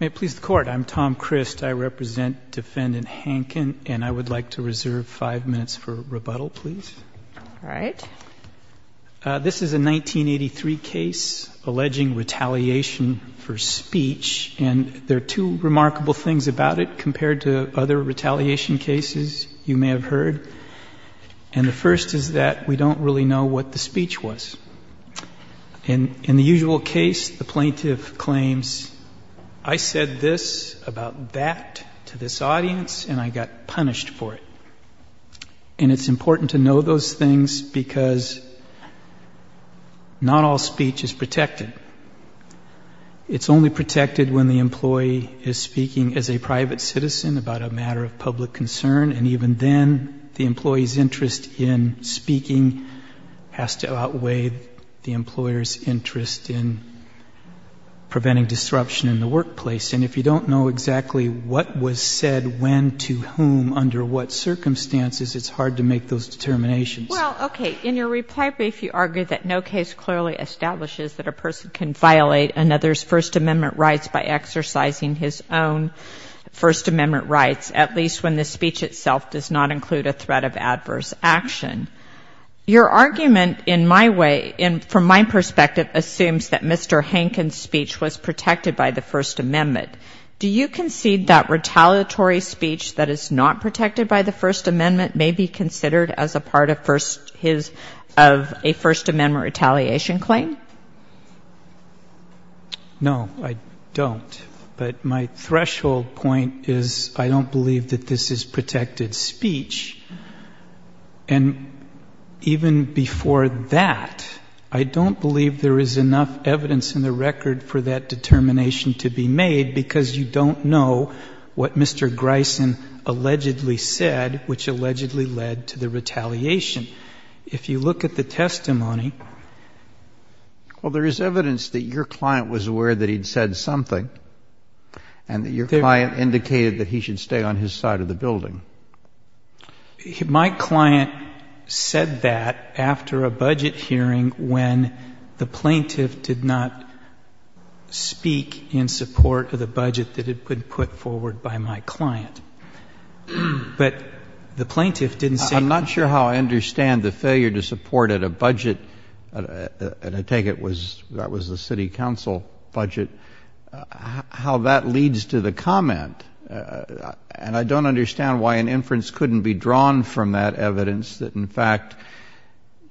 May it please the Court, I'm Tom Crist. I represent Defendant Hanken, and I would like to reserve five minutes for rebuttal, please. All right. This is a 1983 case alleging retaliation for speech, and there are two remarkable things about it compared to other retaliation cases you may have heard. And the first is that we don't really know what the speech was. In the usual case, the plaintiff claims, I said this about that to this audience, and I got punished for it. And it's important to know those things because not all speech is protected. It's only protected when the employee is speaking as a private citizen about a matter of public concern, and even then, the employee's interest in speaking has to outweigh the employer's interest in preventing disruption in the workplace. And if you don't know exactly what was said when to whom under what circumstances, it's hard to make those determinations. Well, okay, in your reply brief, you argue that no case clearly establishes that a person can violate another's First Amendment rights by exercising his own First Amendment rights, at least when the speech itself does not include a threat of adverse action. Your argument, in my way, from my perspective, assumes that Mr. Hankins' speech was protected by the First Amendment. Do you concede that retaliatory speech that is not protected by the First Amendment may be considered as a part of a First Amendment retaliation claim? No, I don't. But my threshold point is I don't believe that this is protected speech. And even before that, I don't believe there is enough evidence in the record for that determination to be made because you don't know what Mr. Grison allegedly said, which allegedly led to the retaliation. If you look at the testimony... Well, there is evidence that your client was aware that he'd said something and that your client indicated that he should stay on his side of the building. My client said that after a budget hearing when the plaintiff did not speak in support of the budget that had been put forward by my client. But the plaintiff didn't say... I'm not sure how I understand the failure to support at a budget, and I take it that was the city council budget, how that leads to the comment. And I don't understand why an inference couldn't be drawn from that evidence that, in fact,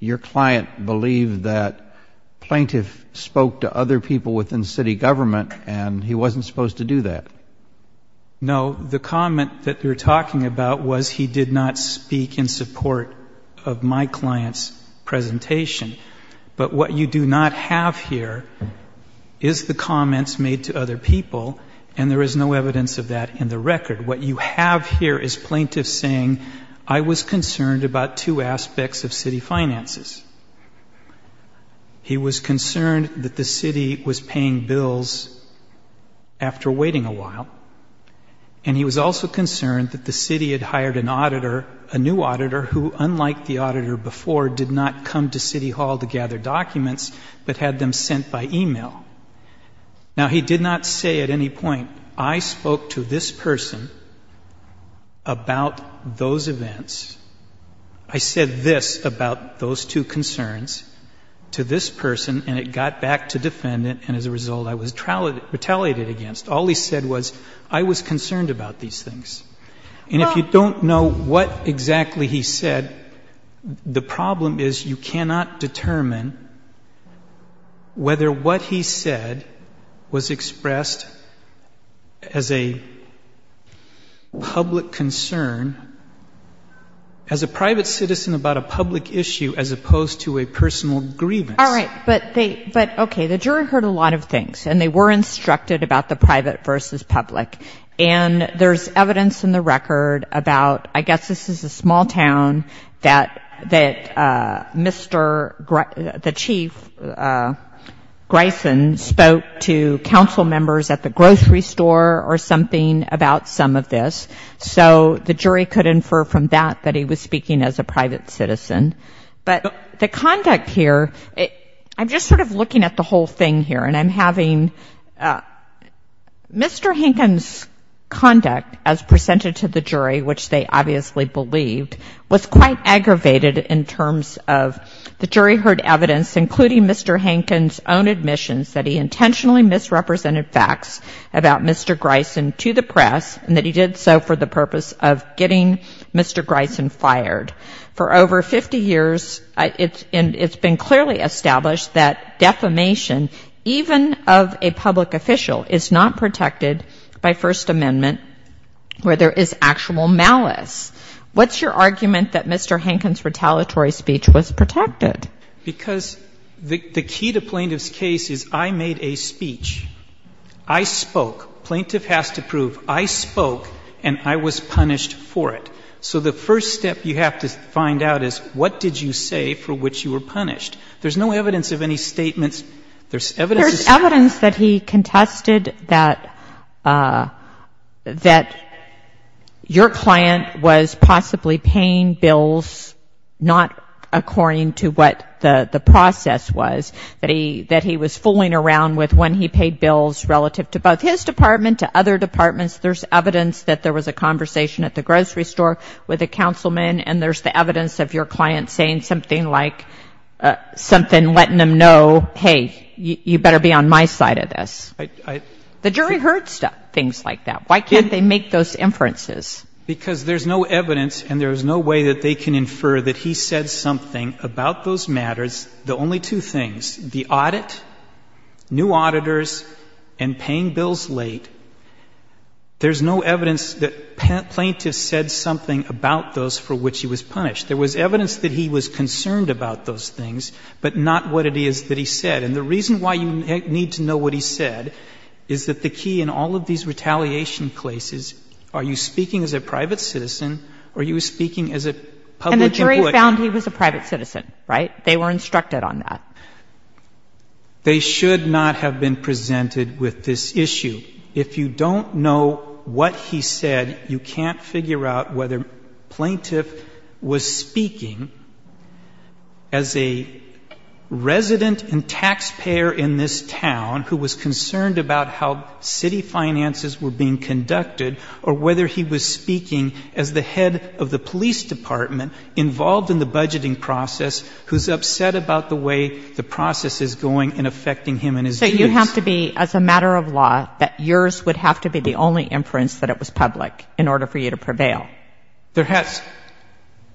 your client believed that plaintiff spoke to other people within city government and he wasn't supposed to do that. No, the comment that you're talking about was he did not speak in support of my client's presentation. But what you do not have here is the comments made to other people, and there is no evidence of that in the record. What you have here is plaintiffs saying, I was concerned about two aspects of city finances. He was concerned that the city was paying bills after waiting a while, and he was also concerned that the city had hired an auditor, a new auditor, who, unlike the auditor before, did not come to city hall to gather documents but had them sent by e-mail. Now, he did not say at any point, I spoke to this person about those events. I said this about those two concerns to this person, and it got back to defendant, and as a result, I was retaliated against. All he said was, I was concerned about these things. And if you don't know what exactly he said, the problem is you cannot determine whether what he said was expressed as a public concern, as a private citizen about a public issue as opposed to a personal grievance. All right, but they, but okay, the jury heard a lot of things, and they were instructed about the private versus public. And there's evidence in the record about, I guess this is a small town, that Mr. the Chief Grison spoke to council members at the grocery store or something about some of this. So the jury could infer from that that he was speaking as a private citizen. But the conduct here, I'm just sort of looking at the whole thing here, and I'm having Mr. Hinken's conduct as presented to the jury, which they obviously believed, was quite aggravated in terms of the jury heard evidence, including Mr. Hinken's own admissions that he intentionally misrepresented facts about Mr. Grison to the press, and that he did so for the purpose of getting Mr. Grison fired. For over 50 years, it's been clearly established that defamation, even of a public official, is not protected by First Amendment where there is actual malice. What's your argument that Mr. Hinken's retaliatory speech was protected? Because the key to plaintiff's case is I made a speech, I spoke, plaintiff has to prove I spoke, and I was punished for it. So the first step you have to find out is what did you say for which you were punished? There's no evidence of any statements. There's evidence that he contested that your client was possibly paying bills not according to what the process was, that he was fooling around with when he paid bills relative to both his department, to other departments. There's evidence that there was a conversation at the grocery store with a councilman, and there's the evidence of your client saying something like something, letting them know, hey, you better be on my side of this. The jury heard things like that. Why can't they make those inferences? Because there's no evidence and there's no way that they can infer that he said something about those matters. The only two things, the audit, new auditors, and paying bills late, there's no evidence that plaintiff said something about those for which he was punished. There was evidence that he was concerned about those things, but not what it is that he said. And the reason why you need to know what he said is that the key in all of these retaliation cases, are you speaking as a private citizen or are you speaking as a public employee? And the jury found he was a private citizen, right? They were instructed on that. They should not have been presented with this issue. If you don't know what he said, you can't figure out whether plaintiff was speaking as a resident and taxpayer in this town who was concerned about how city finances were being conducted or whether he was speaking as the head of the police department involved in the budgeting process who's upset about the way the process is going and affecting him and his views. And you have to be, as a matter of law, that yours would have to be the only inference that it was public in order for you to prevail.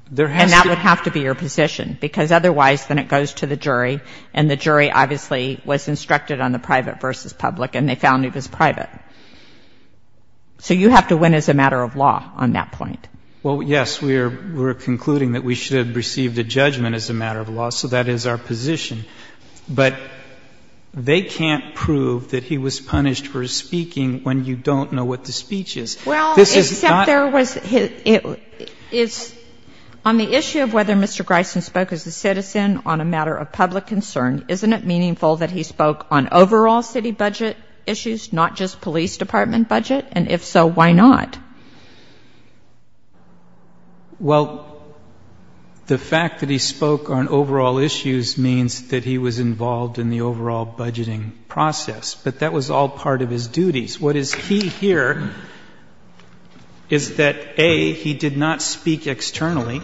And that would have to be your position, because otherwise then it goes to the jury and the jury obviously was instructed on the private versus public and they found he was private. So you have to win as a matter of law on that point. Well, yes, we're concluding that we should have received a judgment as a matter of law, so that is our position. But they can't prove that he was punished for his speaking when you don't know what the speech is. Well, except there was his, on the issue of whether Mr. Greisen spoke as a citizen on a matter of public concern, isn't it meaningful that he spoke on overall city budget issues, not just police department budget? And if so, why not? Well, the fact that he spoke on overall issues means that he was involved in the overall budgeting process, but that was all part of his duties. What is key here is that, A, he did not speak externally.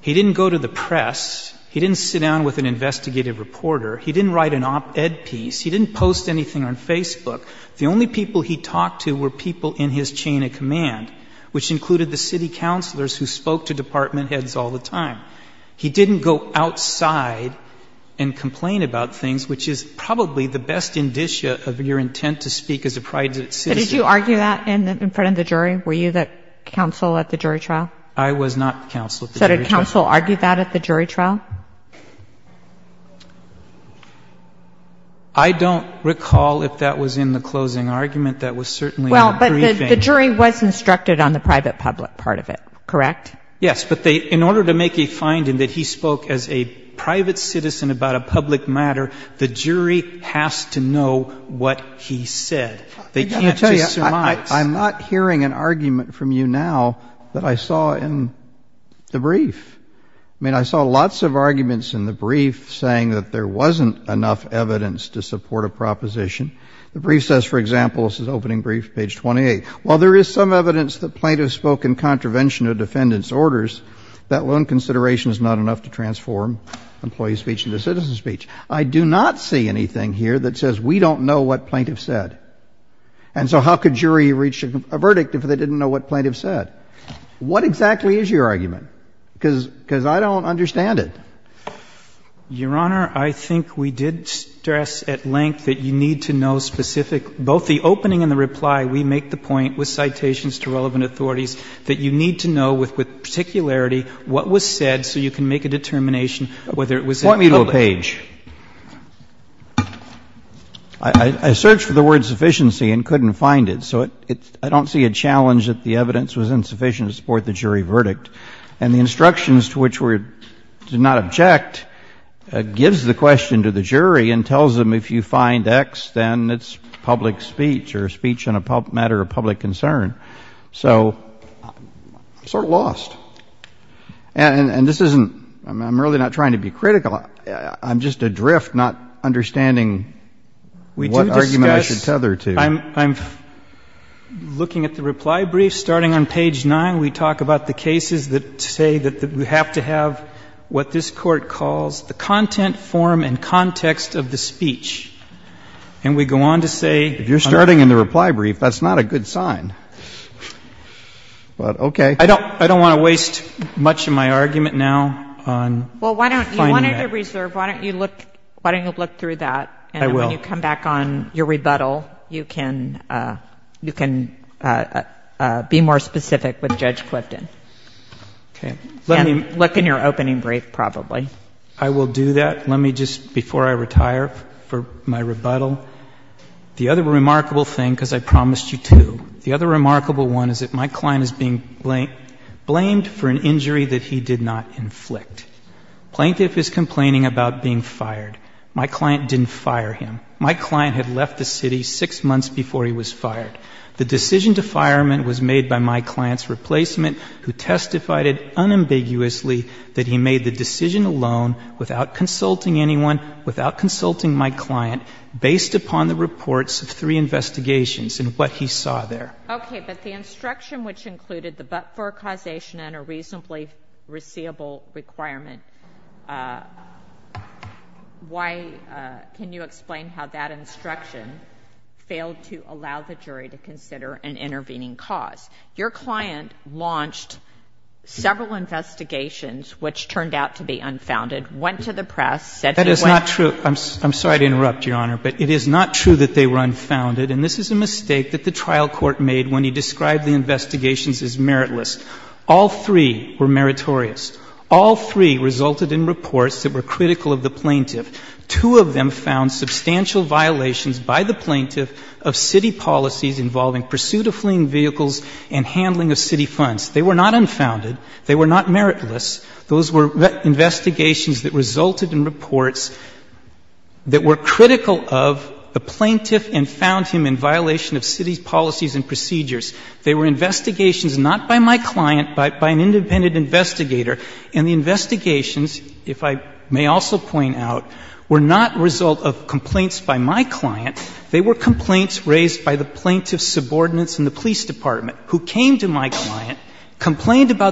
He didn't go to the press. He didn't sit down with an investigative reporter. He didn't write an op-ed piece. He didn't post anything on Facebook. The only people he talked to were people who were in his chain of command, which included the city councilors who spoke to department heads all the time. He didn't go outside and complain about things, which is probably the best indicia of your intent to speak as a private citizen. But did you argue that in front of the jury? Were you the counsel at the jury trial? I was not the counsel at the jury trial. So did counsel argue that at the jury trial? I don't recall if that was in the closing argument. That was certainly in the briefing. Well, but the jury was instructed on the private-public part of it, correct? Yes, but in order to make a finding that he spoke as a private citizen about a public matter, the jury has to know what he said. They can't just surmise. I'm not hearing an argument from you now that I saw in the brief. I mean, I saw lots of arguments in the brief saying that there wasn't enough evidence to support a proposition. The brief says, for example, this is opening brief, page 28. While there is some evidence that plaintiff spoke in contravention of defendant's orders, that lone consideration is not enough to transform employee speech into citizen speech. I do not see anything here that says we don't know what plaintiff said. And so how could jury reach a verdict if they didn't know what plaintiff said? What exactly is your argument? Because I don't understand it. Your Honor, I think we did stress at length that you need to know specific, both the opening and the reply. We make the point with citations to relevant authorities that you need to know with particularity what was said so you can make a determination whether it was public. I'm sort of lost. And this isn't — I mean, I'm really not trying to be critical. I'm just adrift, not understanding what argument I should tether to. We do discuss — I'm looking at the reply brief. Starting on page 9, we talk about the cases that say that we have to have what this Court calls the content, form, and context of the speech. And we go on to say — If you're starting in the reply brief, that's not a good sign. But, okay. I don't want to waste much of my argument now on finding that. Well, you wanted to reserve. Why don't you look through that? I will. And when you come back on your rebuttal, you can be more specific with Judge Clifton. Okay. And look in your opening brief, probably. Okay. But the instruction which included the but-for causation and a reasonably receivable requirement, why — can you explain how that instruction failed to allow the jury to consider an intervening cause? Your client launched several investigations which turned out to be unfounded, went to the press, said he went — That is not true. I'm sorry to interrupt, Your Honor, but it is not true that they were unfounded. And this is a mistake that the trial court made when he described the investigations as meritless. All three were meritorious. All three resulted in reports that were critical of the plaintiff. Two of them found substantial violations by the plaintiff of city policies involving pursuit of fleeing vehicles and handling of city funds. They were not unfounded. They were not meritless. Those were investigations that resulted in reports that were critical of the plaintiff and found him in violation of city policies and procedures. They were investigations not by my client, but by an independent investigator. And the investigations, if I may also point out, were not a result of complaints by my client. They were complaints about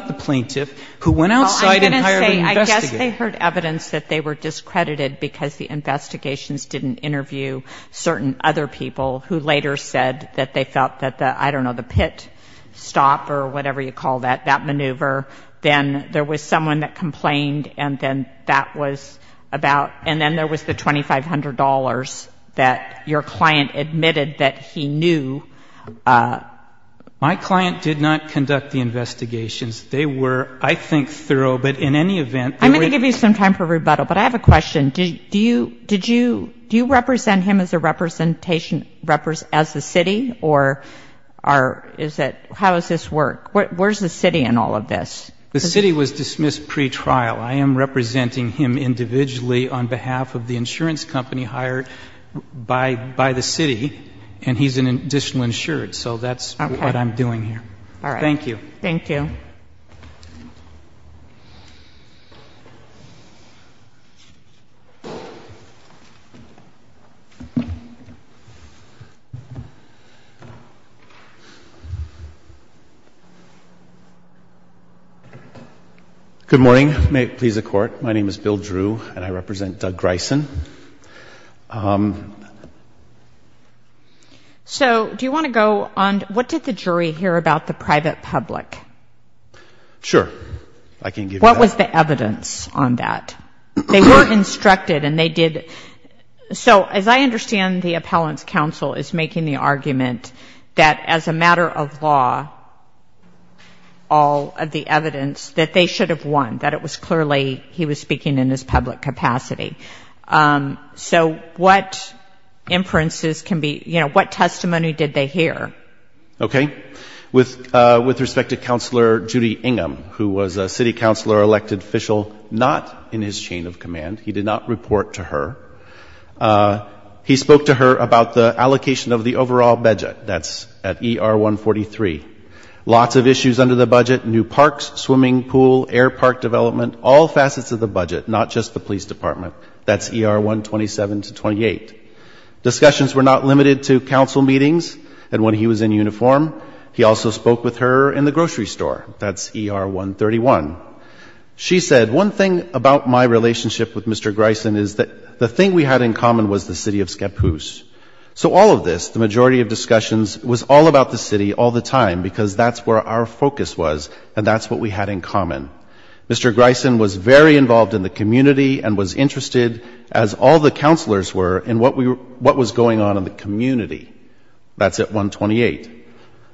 the plaintiff who went outside and hired an investigator. Well, I'm going to say I guess they heard evidence that they were discredited because the investigations didn't interview certain other people who later said that they felt that the, I don't know, the pit stop or whatever you call that, that maneuver, then there was someone that complained, and then that was about — and then there was the $2,500 that your client admitted that he knew. My client did not conduct the investigations. They were, I think, thorough, but in any event — I'm going to give you some time for rebuttal, but I have a question. Do you represent him as a representation, as the city, or is it, how does this work? Where is the city in all of this? The city was dismissed pretrial. I am representing him individually on behalf of the pretrial insured, so that's what I'm doing here. Thank you. Good morning. May it please the Court. My name is Bill Drew, and I represent Doug Smith. I just want to go on, what did the jury hear about the private public? Sure. I can give you that. What was the evidence on that? They were instructed and they did — so as I understand the appellant's counsel is making the argument that as a matter of law, all of the evidence, that they should have won, that it was clearly he was speaking in his public capacity. So what inferences can be — you know, what testimony did they hear? Okay. With respect to Councilor Judy Ingham, who was a city councilor elected official not in his chain of command, he did not report to her. He spoke to her about the allocation of the overall budget, that's at ER 143. Lots of issues under the budget, new parks, swimming pool, air park development, all facets of the budget, not just the police department, that's ER 127 to 28. Discussions were not limited to Council meetings, and when he was in uniform, he also spoke with her in the grocery store, that's ER 131. She said, one thing about my relationship with Mr. Grison is that the thing we had in common was the city of Scappoose. So all of this, the majority of discussions, was all about the city all the time, because that's where our focus was and that's what we had in common. Mr. Grison was very involved in the community and was interested, as all the councilors were, in what was going on in the community. That's at 128.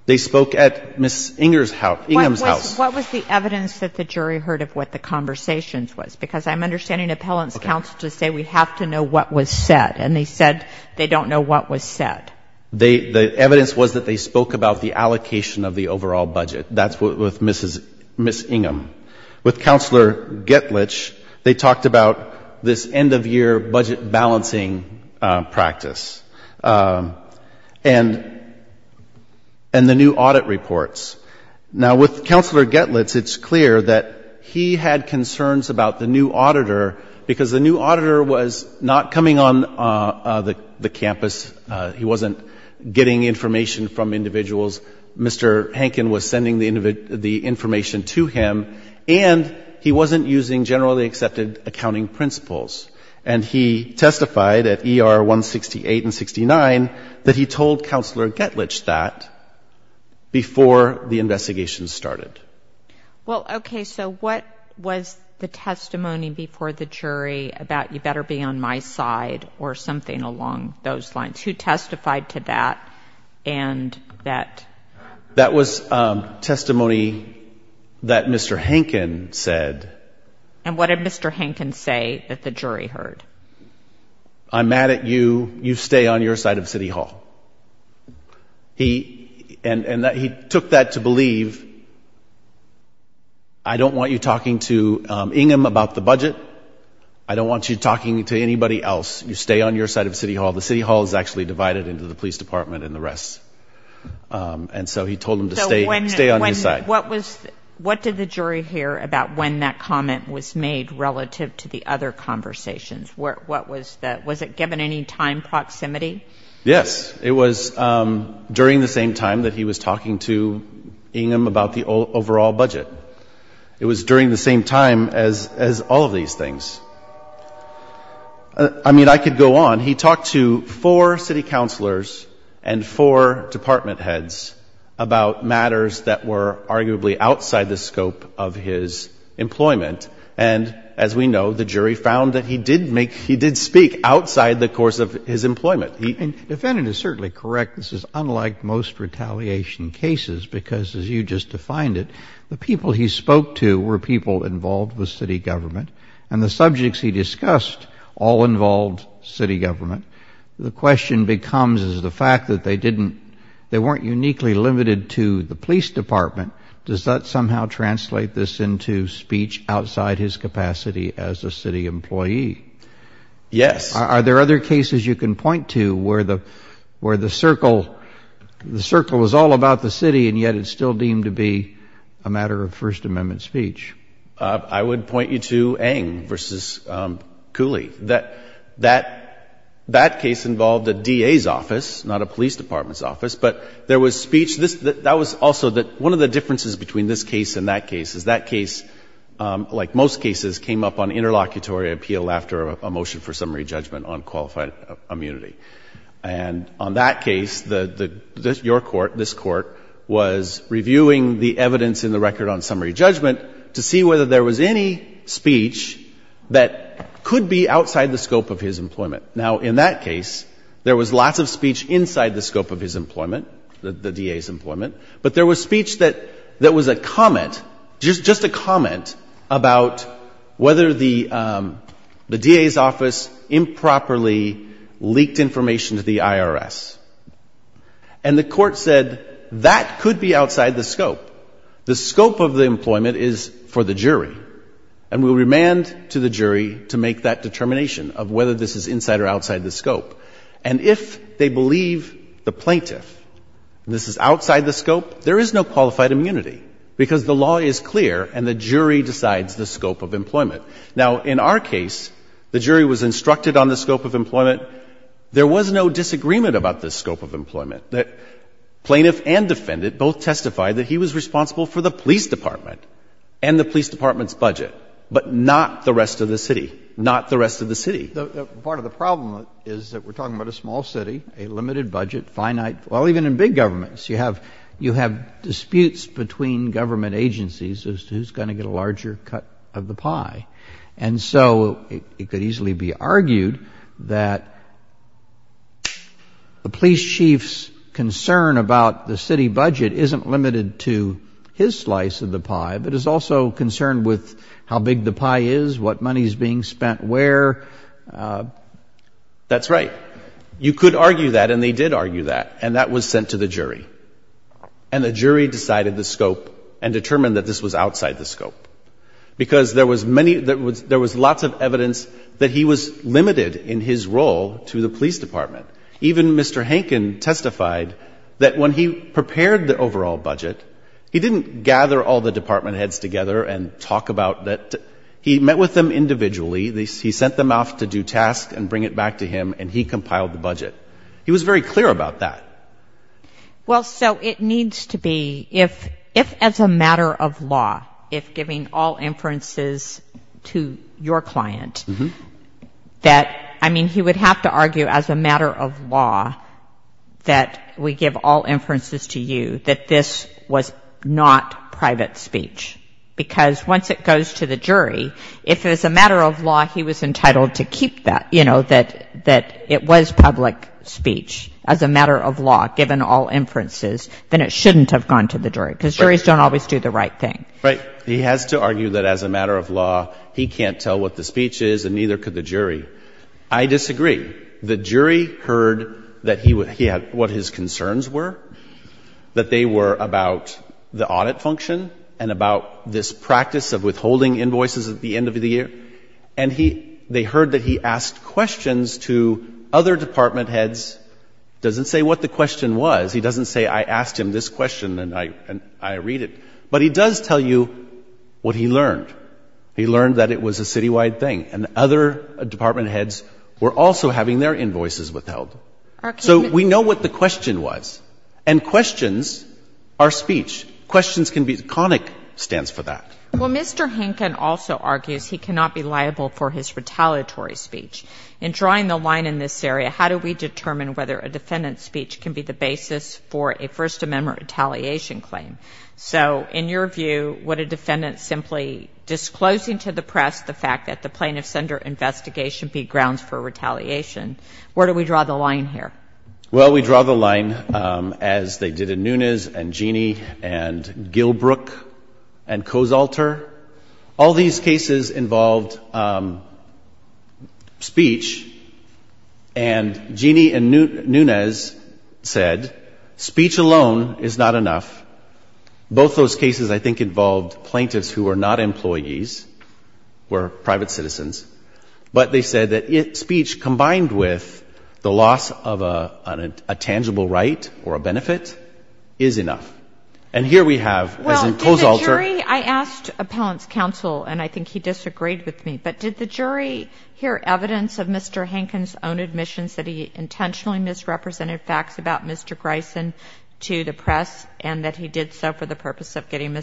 They spoke at Ms. Ingham's house. What was the evidence that the jury heard of what the conversations was? Because I'm understanding appellants counsel to say we have to know what was said, and they said they don't know what was said. The evidence was that they spoke about the allocation of the overall budget. That's with Ms. Ingham. With Councilor Getlitch, they talked about this end-of-year budget balancing practice and the new audit reports. Now, with Councilor Getlitch, it's clear that he had concerns about the new auditor, because the new auditor was not coming on the campus. He wasn't getting information from individuals. Mr. Hankin was sending the information to him, and he wasn't using generally accepted accounting principles. And he testified at ER 168 and 69 that he told Councilor Getlitch that before the investigation started. Well, okay, so what was the testimony before the jury about you better be on my side or something along those lines? Who testified to that and that? That was testimony that Mr. Hankin said. And what did Mr. Hankin say that the jury heard? I'm mad at you. You stay on your side of City Hall. And he took that to believe that I don't want you talking to Ingham about the budget. I don't want you talking to anybody else. You stay on your side of City Hall. The City Hall is actually divided into the police department and the rest. And so he told them to stay on his side. What did the jury hear about when that comment was made relative to the other conversations? Was it given any time proximity? Yes. It was during the same time that he was talking to Ingham about the overall budget. It was during the same time as all of these things. I mean, I could go on. He talked to four city councilors and four department heads about matters that were arguably outside the scope of his employment. And as we know, the jury found that he did speak outside the course of his employment. The defendant is certainly correct. This is unlike most retaliation cases because, as you just defined it, the people he spoke to were people involved with city government. And the subjects he discussed all involved city government. The question becomes, is the fact that they weren't uniquely limited to the police department, does that somehow translate this into speech outside his capacity as a city employee? Yes. Are there other cases you can point to where the circle is all about the city and yet it's still deemed to be a matter of First Amendment speech? I would point you to Ng versus Cooley. That case involved a D.A.'s office, not a police department's office, but there was speech. That was also that one of the differences between this case and that case is that case, like most cases, came up on interlocutory appeal after a motion for summary judgment on qualified immunity. And on that case, your Court, this Court, was reviewing the evidence in the record on summary judgment to see whether there was any speech that could be outside the scope of his employment. Now, in that case, there was lots of speech inside the scope of his employment, the D.A.'s employment, but there was speech that was a comment, just a comment about whether the D.A.'s office improperly leaked information to the IRS. And the Court said, that could be outside the scope. The scope of the employment is for the jury, and we'll remand to the jury to make that determination of whether this is inside or outside the scope. And if they believe the plaintiff this is outside the scope, there is no qualified immunity, because the law is clear and the jury decides the scope of employment. Now, in our case, the jury was instructed on the scope of employment. There was no disagreement about the scope of employment. The plaintiff and defendant both testified that he was responsible for the police department and the police department's budget, but not the rest of the city, not the rest of the city. The part of the problem is that we're talking about a small city, a limited budget, finite, well, even in big governments, you have disputes between government agencies as to who's going to get a larger cut of the pie. And so it could easily be argued that the police chief's concern about the city budget isn't limited to his slice of the pie, but is also concerned with how big the pie is, what money is being spent where, and what is being spent by the police department. That's right. You could argue that, and they did argue that, and that was sent to the jury. And the jury decided the scope and determined that this was outside the scope, because there was many — there was lots of evidence that he was limited in his role to the police department. Even Mr. Hankin testified that when he prepared the overall budget, he didn't gather all the department heads together and talk about that. He met with them individually. He sent them off to do tasks and bring it back to him, and he compiled the budget. He was very clear about that. Well, so it needs to be, if as a matter of law, if giving all inferences to your client, that, I mean, he would have to argue as a matter of law that we give all inferences to you, that this was not private speech. Because once it goes to the jury, if as a matter of law he was entitled to keep that, you know, that it was public speech as a matter of law, given all inferences, then it shouldn't have gone to the jury, because juries don't always do the right thing. Right. He has to argue that as a matter of law, he can't tell what the speech is, and neither could the jury. I disagree. The jury heard that he had what his concerns were, that they were about the audit function and about this practice of withholding invoices at the end of the year. And he — they heard that he asked questions to other department heads. Doesn't say what the question was. He doesn't say, I asked him this question and I read it. But he does tell you what he learned. He learned that it was a citywide thing, and other department heads were also having their invoices withheld. So we know what the question was. And questions are speech. Questions can be — CONIC stands for that. Well, Mr. Hinken also argues he cannot be liable for his retaliatory speech. In drawing the line in this area, how do we determine whether a defendant's speech can be the basis for a First Amendment retaliation claim? So in your view, would a defendant simply disclosing to the press the fact that the plaintiff's under investigation be grounds for retaliation? Where do we draw the line here? Well, we draw the line as they did in Nunez and Gini and Gilbrook and Cozalter. All these cases involved speech. And Gini and Nunez said speech alone is not enough. Both those cases, I think, involved plaintiffs who were not employees, were private citizens. But they said that speech combined with the loss of a plaintiff's speech was not enough. And the claim that the defendant is not liable for his retaliatory speech, that the plaintiff did not have a tangible right or a benefit, is enough. And here we have, as in Cozalter — Well, did the jury — I asked Appellant's counsel, and I think he disagreed with me, but did the jury hear evidence of Mr. Hinken's own admissions that he intentionally misrepresented facts about Mr. Greisen to the press and that he did so for the purpose of making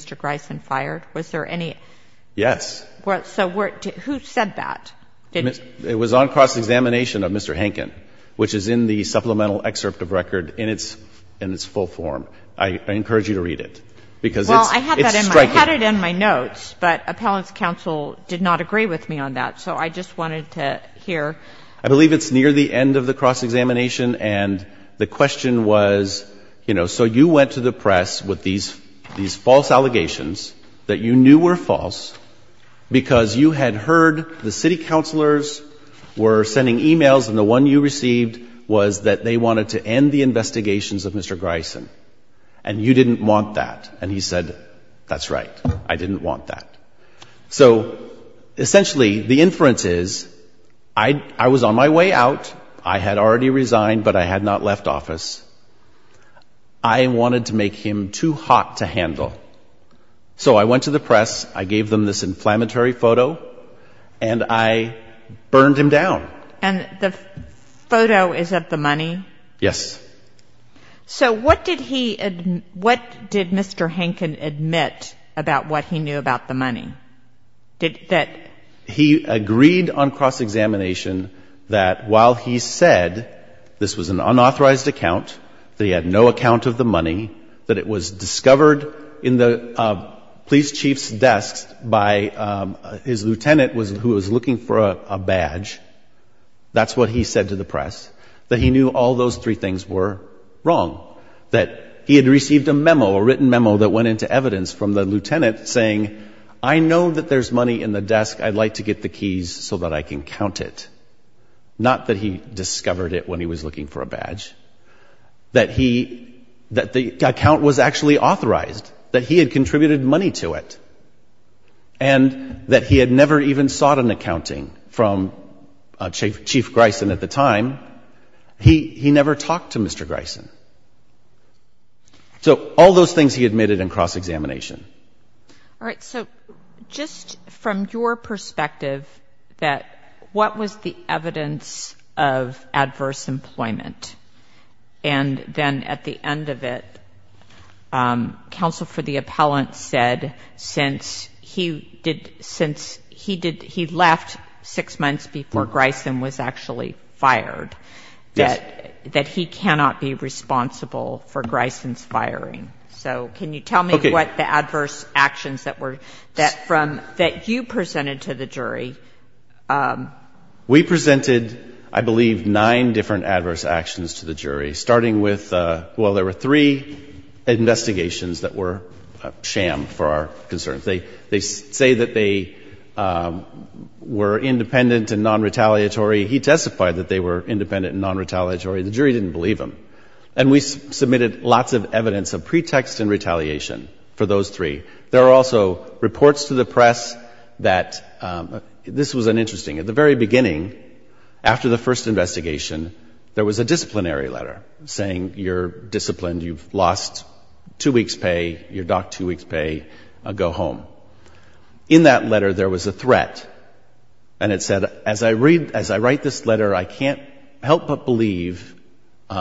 a supplemental excerpt of record in its full form? I encourage you to read it, because it's striking. Well, I had it in my notes, but Appellant's counsel did not agree with me on that, so I just wanted to hear. I believe it's near the end of the cross-examination, and the question was, you know, so you went to the press with these false allegations that you knew were false because you had heard the city counselors were sending e-mails, and the one you received was that they wanted to end the investigations of Mr. Greisen, and you didn't want that. And he said, that's right, I didn't want that. So, essentially, the inference is, I was on my way out, I had already resigned, but I had not left office, I wanted to make him too hot to handle. So I went to the press, I gave them this inflammatory photo, and I burned him down. And the photo is of the money? Yes. So what did he, what did Mr. Hankin admit about what he knew about the money? He agreed on cross-examination that while he said this was an unauthorized account, that he had no account of the money, that it was a badge. That's what he said to the press, that he knew all those three things were wrong. That he had received a memo, a written memo, that went into evidence from the lieutenant saying, I know that there's money in the desk, I'd like to get the keys so that I can count it. Not that he discovered it when he was looking for a badge. That he, that the account was actually authorized, that he had contributed money to it. And that he had never even sought an accounting from the city chief, Chief Gryson at the time. He never talked to Mr. Gryson. So all those things he admitted in cross-examination. All right. So just from your perspective, that what was the evidence of adverse employment? And then at the end of it, counsel for the appellant said since he did, since he did, he left six months before Gryson. And that's when Gryson was actually fired. That, that he cannot be responsible for Gryson's firing. So can you tell me what the adverse actions that were, that from, that you presented to the jury? We presented, I believe, nine different adverse actions to the jury, starting with, well, there were three investigations that were a sham for our concerns. They, they say that they were independent and non-retaliant. He testified that they were independent and non-retaliatory. The jury didn't believe him. And we submitted lots of evidence of pretext and retaliation for those three. There are also reports to the press that, this was an interesting, at the very beginning, after the first investigation, there was a disciplinary letter saying you're disciplined, you've lost two weeks' pay, you're docked two weeks' pay, go home. In that letter, there was a threat, and it said, as I read, as I write this letter, I can't help but believe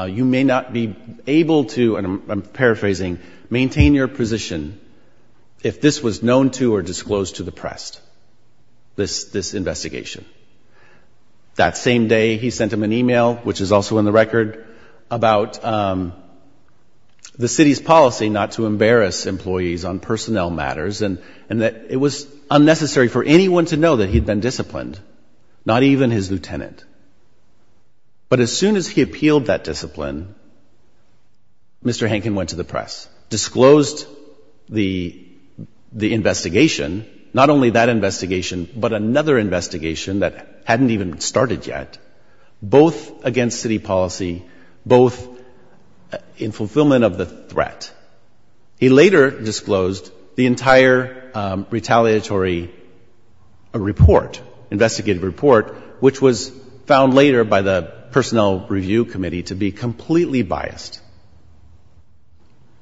you may not be able to, and I'm paraphrasing, maintain your position if this was known to or disclosed to the press, this, this investigation. That same day, he sent them an email, which is also in the record, about the city's policy not to discipline, and that it was unnecessary for anyone to know that he'd been disciplined, not even his lieutenant. But as soon as he appealed that discipline, Mr. Hankin went to the press, disclosed the, the investigation, not only that investigation, but another investigation that hadn't even started yet, both against city policy, both in the form of a retaliatory report, investigative report, which was found later by the personnel review committee to be completely biased.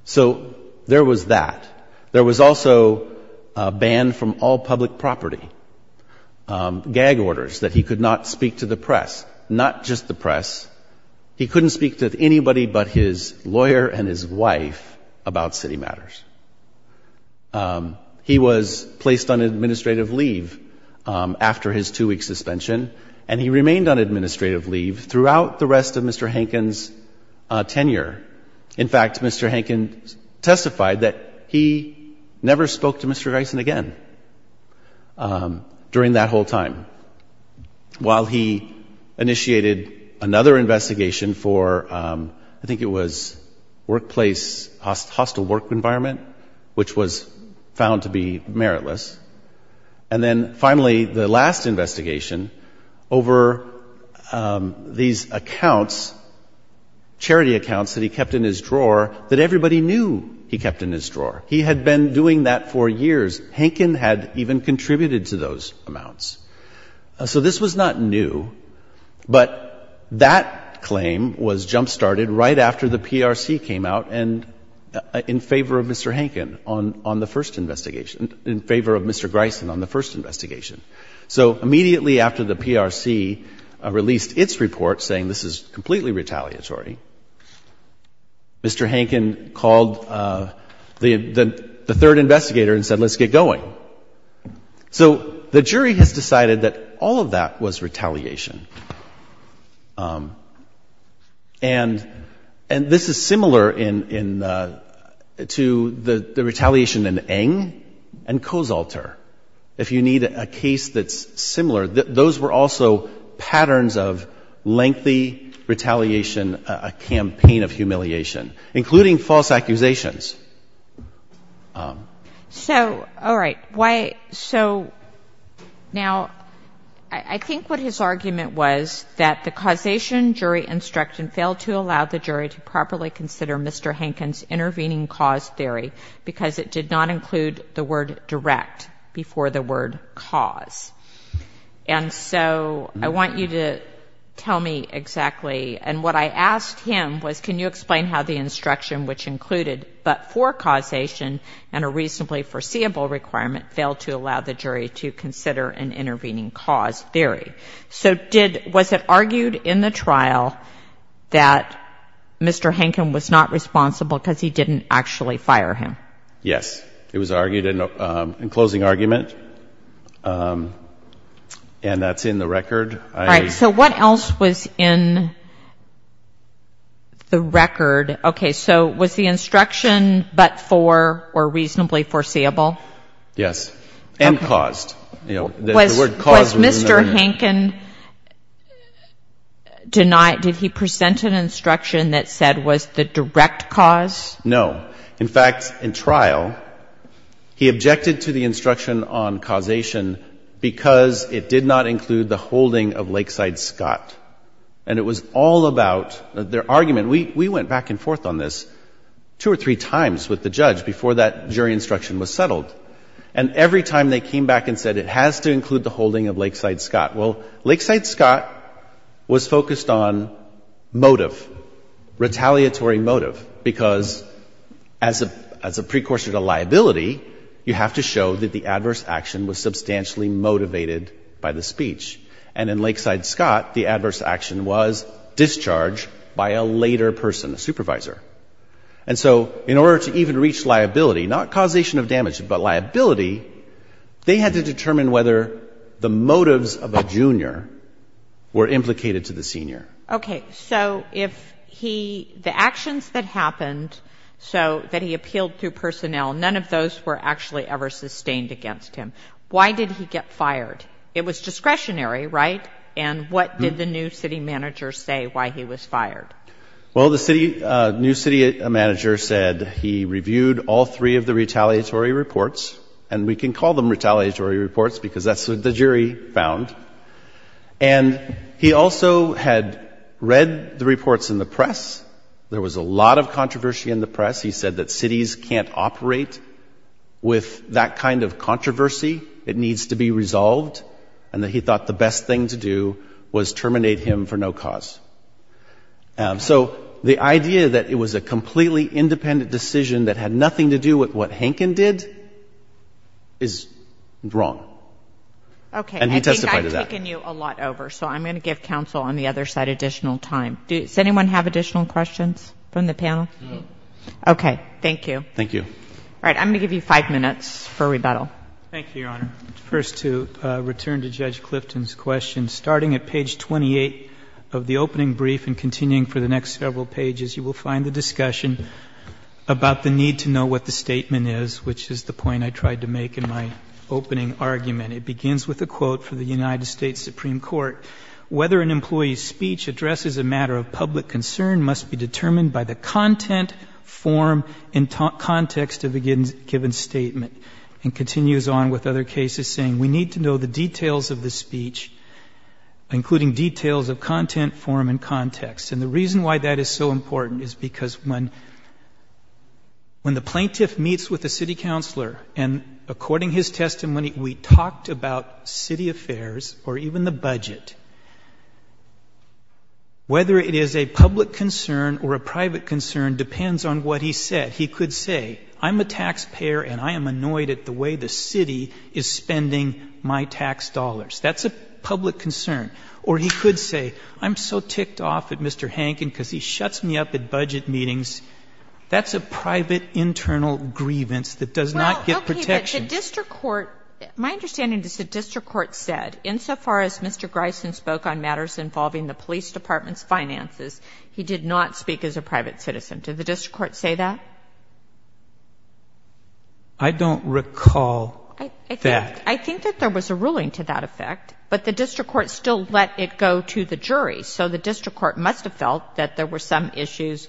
So there was that. There was also a ban from all public property, gag orders that he could not speak to the press, not just the press. He couldn't speak to anybody but his lawyer and his wife about city matters. He was placed on administrative leave after his two-week suspension, and he remained on administrative leave throughout the rest of Mr. Hankin's tenure. In fact, Mr. Hankin testified that he never spoke to Mr. Gison again during that whole time, while he initiated another investigation for, I think it was workplace, hostile work environment, which was found to be meritless. And then, finally, the last investigation over these accounts, charity accounts that he kept in his drawer, that everybody knew he kept in his drawer. He had been doing that for years. Hankin had even contributed to those amounts. So this was not new, but that claim was jump-started right after the PRC came out in favor of Mr. Gison. In favor of Mr. Hankin on the first investigation. In favor of Mr. Gison on the first investigation. So immediately after the PRC released its report saying this is completely retaliatory, Mr. Hankin called the third investigator and said, let's get going. So the jury has decided that all of that was retaliation. And this is similar to the retaliation in Eng and Kozolter. If you need a case that's similar, those were also patterns of lengthy retaliation, a campaign of humiliation, including false accusations. So, all right, so now I think what his argument was that the causation jury instruction failed to allow the jury to properly consider Mr. Hankin's intervening cause theory, because it did not include the word direct before the word cause. And so I want you to tell me exactly. And what I asked him was, can you explain how the instruction, which included but for causation and a reasonably foreseeable requirement, failed to allow the jury to consider an intervening cause theory? So was it argued in the trial that Mr. Hankin was not responsible because he didn't actually fire him? Yes, it was argued in closing argument. And that's in the record. All right, so what else was in the record? Okay, so was the instruction but for or reasonably foreseeable? Yes, and caused. Was Mr. Hankin denied, did he present an instruction that said was the direct cause? No, in fact, in trial, he objected to the instruction on causation because it did not include the holding of Lakeside Scott. And it was all about their argument. We went back and forth on this two or three times with the judge before that jury instruction was settled. And every time they came back and said it has to include the holding of Lakeside Scott, well, Lakeside Scott was as a precursor to liability, you have to show that the adverse action was substantially motivated by the speech. And in Lakeside Scott, the adverse action was discharge by a later person, a supervisor. And so in order to even reach liability, not causation of damage, but liability, they had to determine whether the motives of a junior were implicated to the senior. Okay, so if he, the actions that happened, so that he appealed through personnel, none of those were actually ever sustained against him. Why did he get fired? It was discretionary, right? And what did the new city manager say why he was fired? Well, the city, new city manager said he reviewed all three of the retaliatory reports, and we can call them retaliatory reports because that's what the jury found. And he also had read the reports in the press. There was a lot of controversy in the press. He said that cities can't operate with that kind of controversy. It needs to be resolved. And that he thought the best thing to do was terminate him for no cause. So the idea that it was a completely independent decision that had nothing to do with what Hankin did is wrong. And he testified to that. Okay, I think I've taken you a lot over, so I'm going to give counsel on the other side additional time. Does anyone have additional questions from the panel? Okay, thank you. All right, I'm going to give you five minutes for rebuttal. Thank you, Your Honor. First, to return to Judge Clifton's question, starting at page 28 of the opening brief and continuing for the next several pages, you will find the discussion about the need to know what the statement is, which is the point I tried to make in my opening argument. It begins with a quote from the United States Supreme Court. Whether an employee's speech addresses a matter of public concern must be determined by the content, form, and context of the given statement. And continues on with other cases saying we need to know the details of the speech, including details of content, form, and context. And the reason why that is so important is because when the plaintiff meets with the city counselor, and according to his testimony, we talked about city affairs or even the budget, whether it is a public concern or a private concern depends on what he said. He could say, I'm a taxpayer and I am annoyed at the way the city is spending my tax dollars. That's a public concern. Or he could say, I'm so ticked off at Mr. Hankin because he shuts me up at budget meetings. That's a private internal grievance that does not get protection. Well, okay, but the district court, my understanding is the district court said, insofar as Mr. Greisen spoke on matters involving the police department's finances, he did not speak as a private citizen. Did the district court say that? I don't recall that. I think that there was a ruling to that effect, but the district court still let it go to the jury. So the district court must have felt that there were some issues.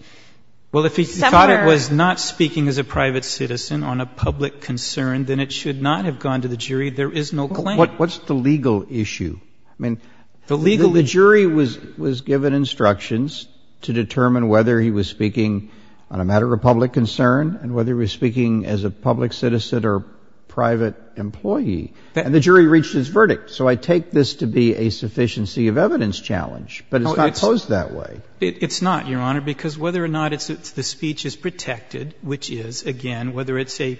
Well, if he thought it was not speaking as a private citizen on a public concern, then it should not have gone to the jury. There is no claim. What's the legal issue? I mean, the jury was given instructions to determine whether he was speaking on a matter of public concern and whether he was speaking as a public citizen or private employee, and the jury reached its verdict. So I take this to be a sufficiency of evidence challenge, but it's not posed that way. It's not, Your Honor, because whether or not the speech is protected, which is, again, whether it's a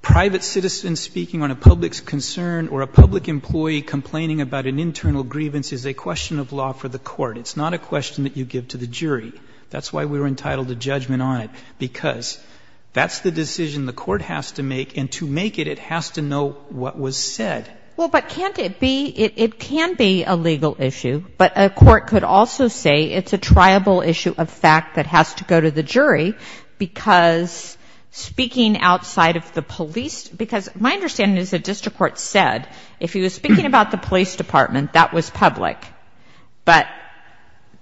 private citizen speaking on a public concern or a public employee complaining about an internal grievance is a question of law for the court. It's not a question that you give to the jury. That's why we were entitled to judgment on it, because that's the decision the court has to make, and to make it, it has to know what was said. Well, but can't it be? It can be a legal issue, but a court could also say it's a triable issue of fact that has to go to the jury, because speaking outside of the police, because my understanding is the district court said if he was speaking about the police department, that was public, but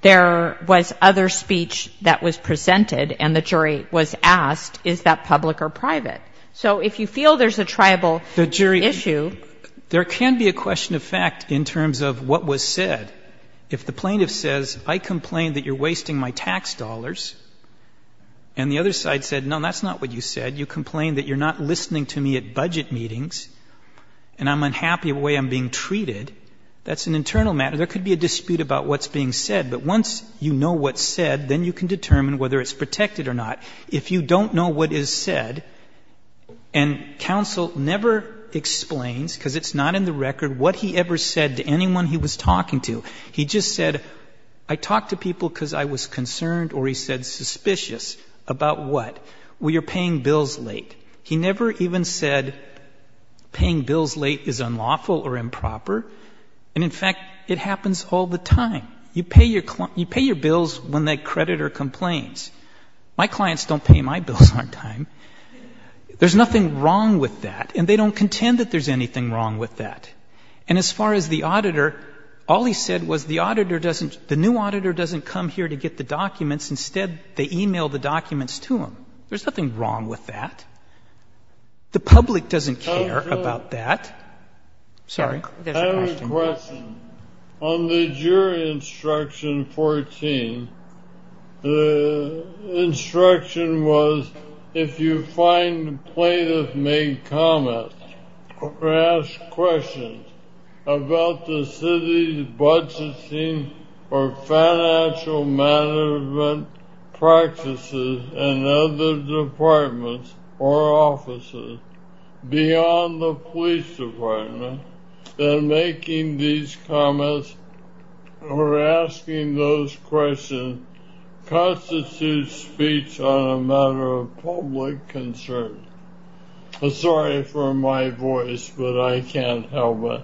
there was other speech that was presented, and the jury was asked, is that public or private? So if you feel there's a triable issue... The jury, there can be a question of fact in terms of what was said. If the plaintiff says, I complain that you're wasting my tax dollars, and the other side said, no, that's not what you said. If I complain that I'm not happy at budget meetings, and I'm unhappy with the way I'm being treated, that's an internal matter. There could be a dispute about what's being said, but once you know what's said, then you can determine whether it's protected or not. If you don't know what is said, and counsel never explains, because it's not in the record, what he ever said to anyone he was talking to. He just said, I talked to people because I was concerned, or he said suspicious, about what? Well, you're paying bills late. He never even said paying bills late is unlawful or improper, and in fact, it happens all the time. You pay your bills when that creditor complains. My clients don't pay my bills on time. There's nothing wrong with that, and they don't contend that there's anything wrong with that. And as far as the auditor, all he said was the auditor doesn't, the new auditor doesn't come here to get the documents. Instead, they email the documents to him. There's nothing wrong with that. The public doesn't care about that. I have a question. On the jury instruction 14, the instruction was, if you find the plaintiff made comments or asked questions about the city's budgeting or financial management practices in other departments or offices, beyond the police department, then making these comments or asking those questions constitutes speech on a matter of public concern. Sorry for my voice, but I can't help it.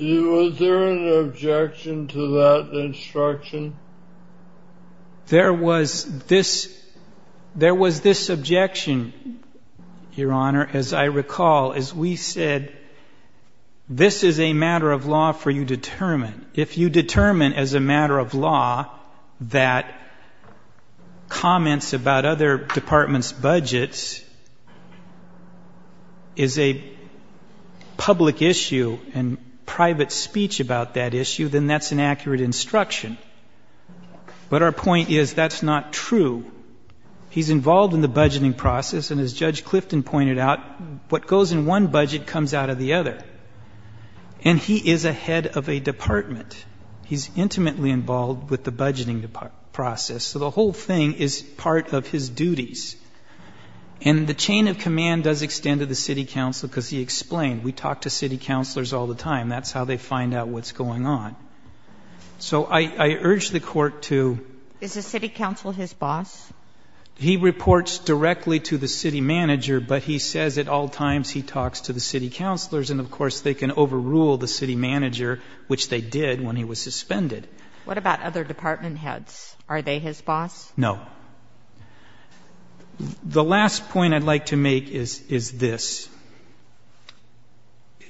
Was there an objection to that instruction? There was this objection, Your Honor, as a matter of fact. As I recall, as we said, this is a matter of law for you to determine. If you determine as a matter of law that comments about other departments' budgets is a public issue and private speech about that issue, then that's an accurate instruction. But our point is that's not true. He's involved in the budgeting process, and as Judge Clifton pointed out, what goes in one budget comes out of the other. And he is a head of a department. He's intimately involved with the budgeting process. So the whole thing is part of his duties. And the chain of command does extend to the city council, because he explained, we talk to city councilors all the time. That's how they find out what's going on. So I urge the Court to... Is the city council his boss? He reports directly to the city manager, but he says at all times he talks to the city councilors, and, of course, they can overrule the city manager, which they did when he was suspended. The last point I'd like to make is this.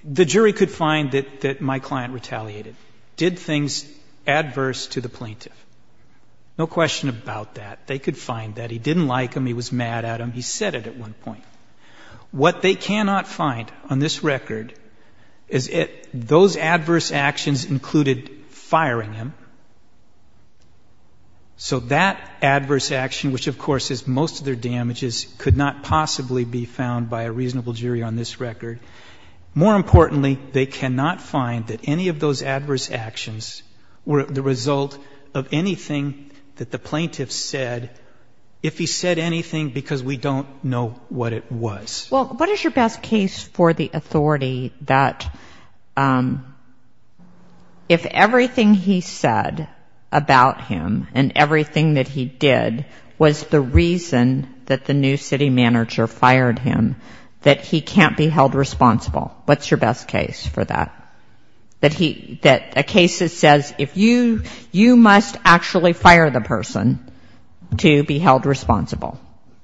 The jury could find that my client retaliated, did things adverse to the plaintiff. No question about that. They could find that. He didn't like him. He was mad at him. He said it at one point. What they cannot find on this record is those adverse actions included firing him. The damages could not possibly be found by a reasonable jury on this record. More importantly, they cannot find that any of those adverse actions were the result of anything that the plaintiff said, if he said anything, because we don't know what it was. Well, what is your best case for the authority that if everything he said about him and everything that he did was the reason that the plaintiff did it? That the new city manager fired him, that he can't be held responsible? What's your best case for that? That he, that a case that says if you, you must actually fire the person to be held responsible?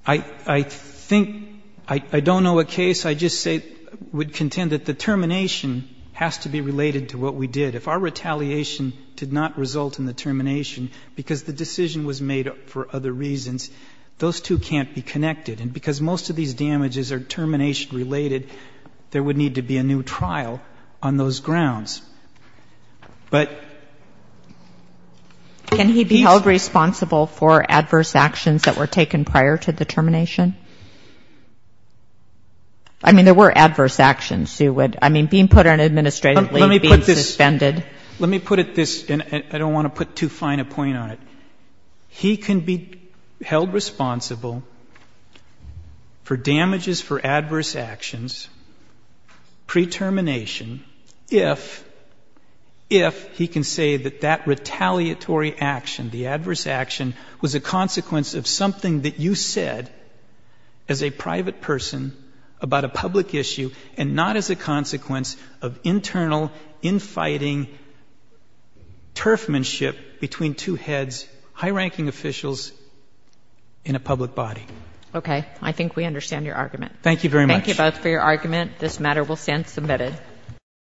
I think, I don't know a case, I just say, would contend that the termination has to be related to what we did. If our retaliation did not result in the termination, because the decision was made for other reasons, those two can't be connected. And because most of these damages are termination-related, there would need to be a new trial on those grounds. But... Can he be held responsible for adverse actions that were taken prior to the termination? I mean, there were adverse actions. I mean, being put on administrative leave, being suspended. Let me put it this, and I don't want to put too fine a point on it. He can be held responsible for damages for adverse actions, pre-termination, if, if he can say that that retaliatory action, the adverse action, was a consequence of something that you said, as a private person, about a public issue, and not as a consequence of internal, infighting, turfmanship between two heads of state. High-ranking officials in a public body. Okay. I think we understand your argument.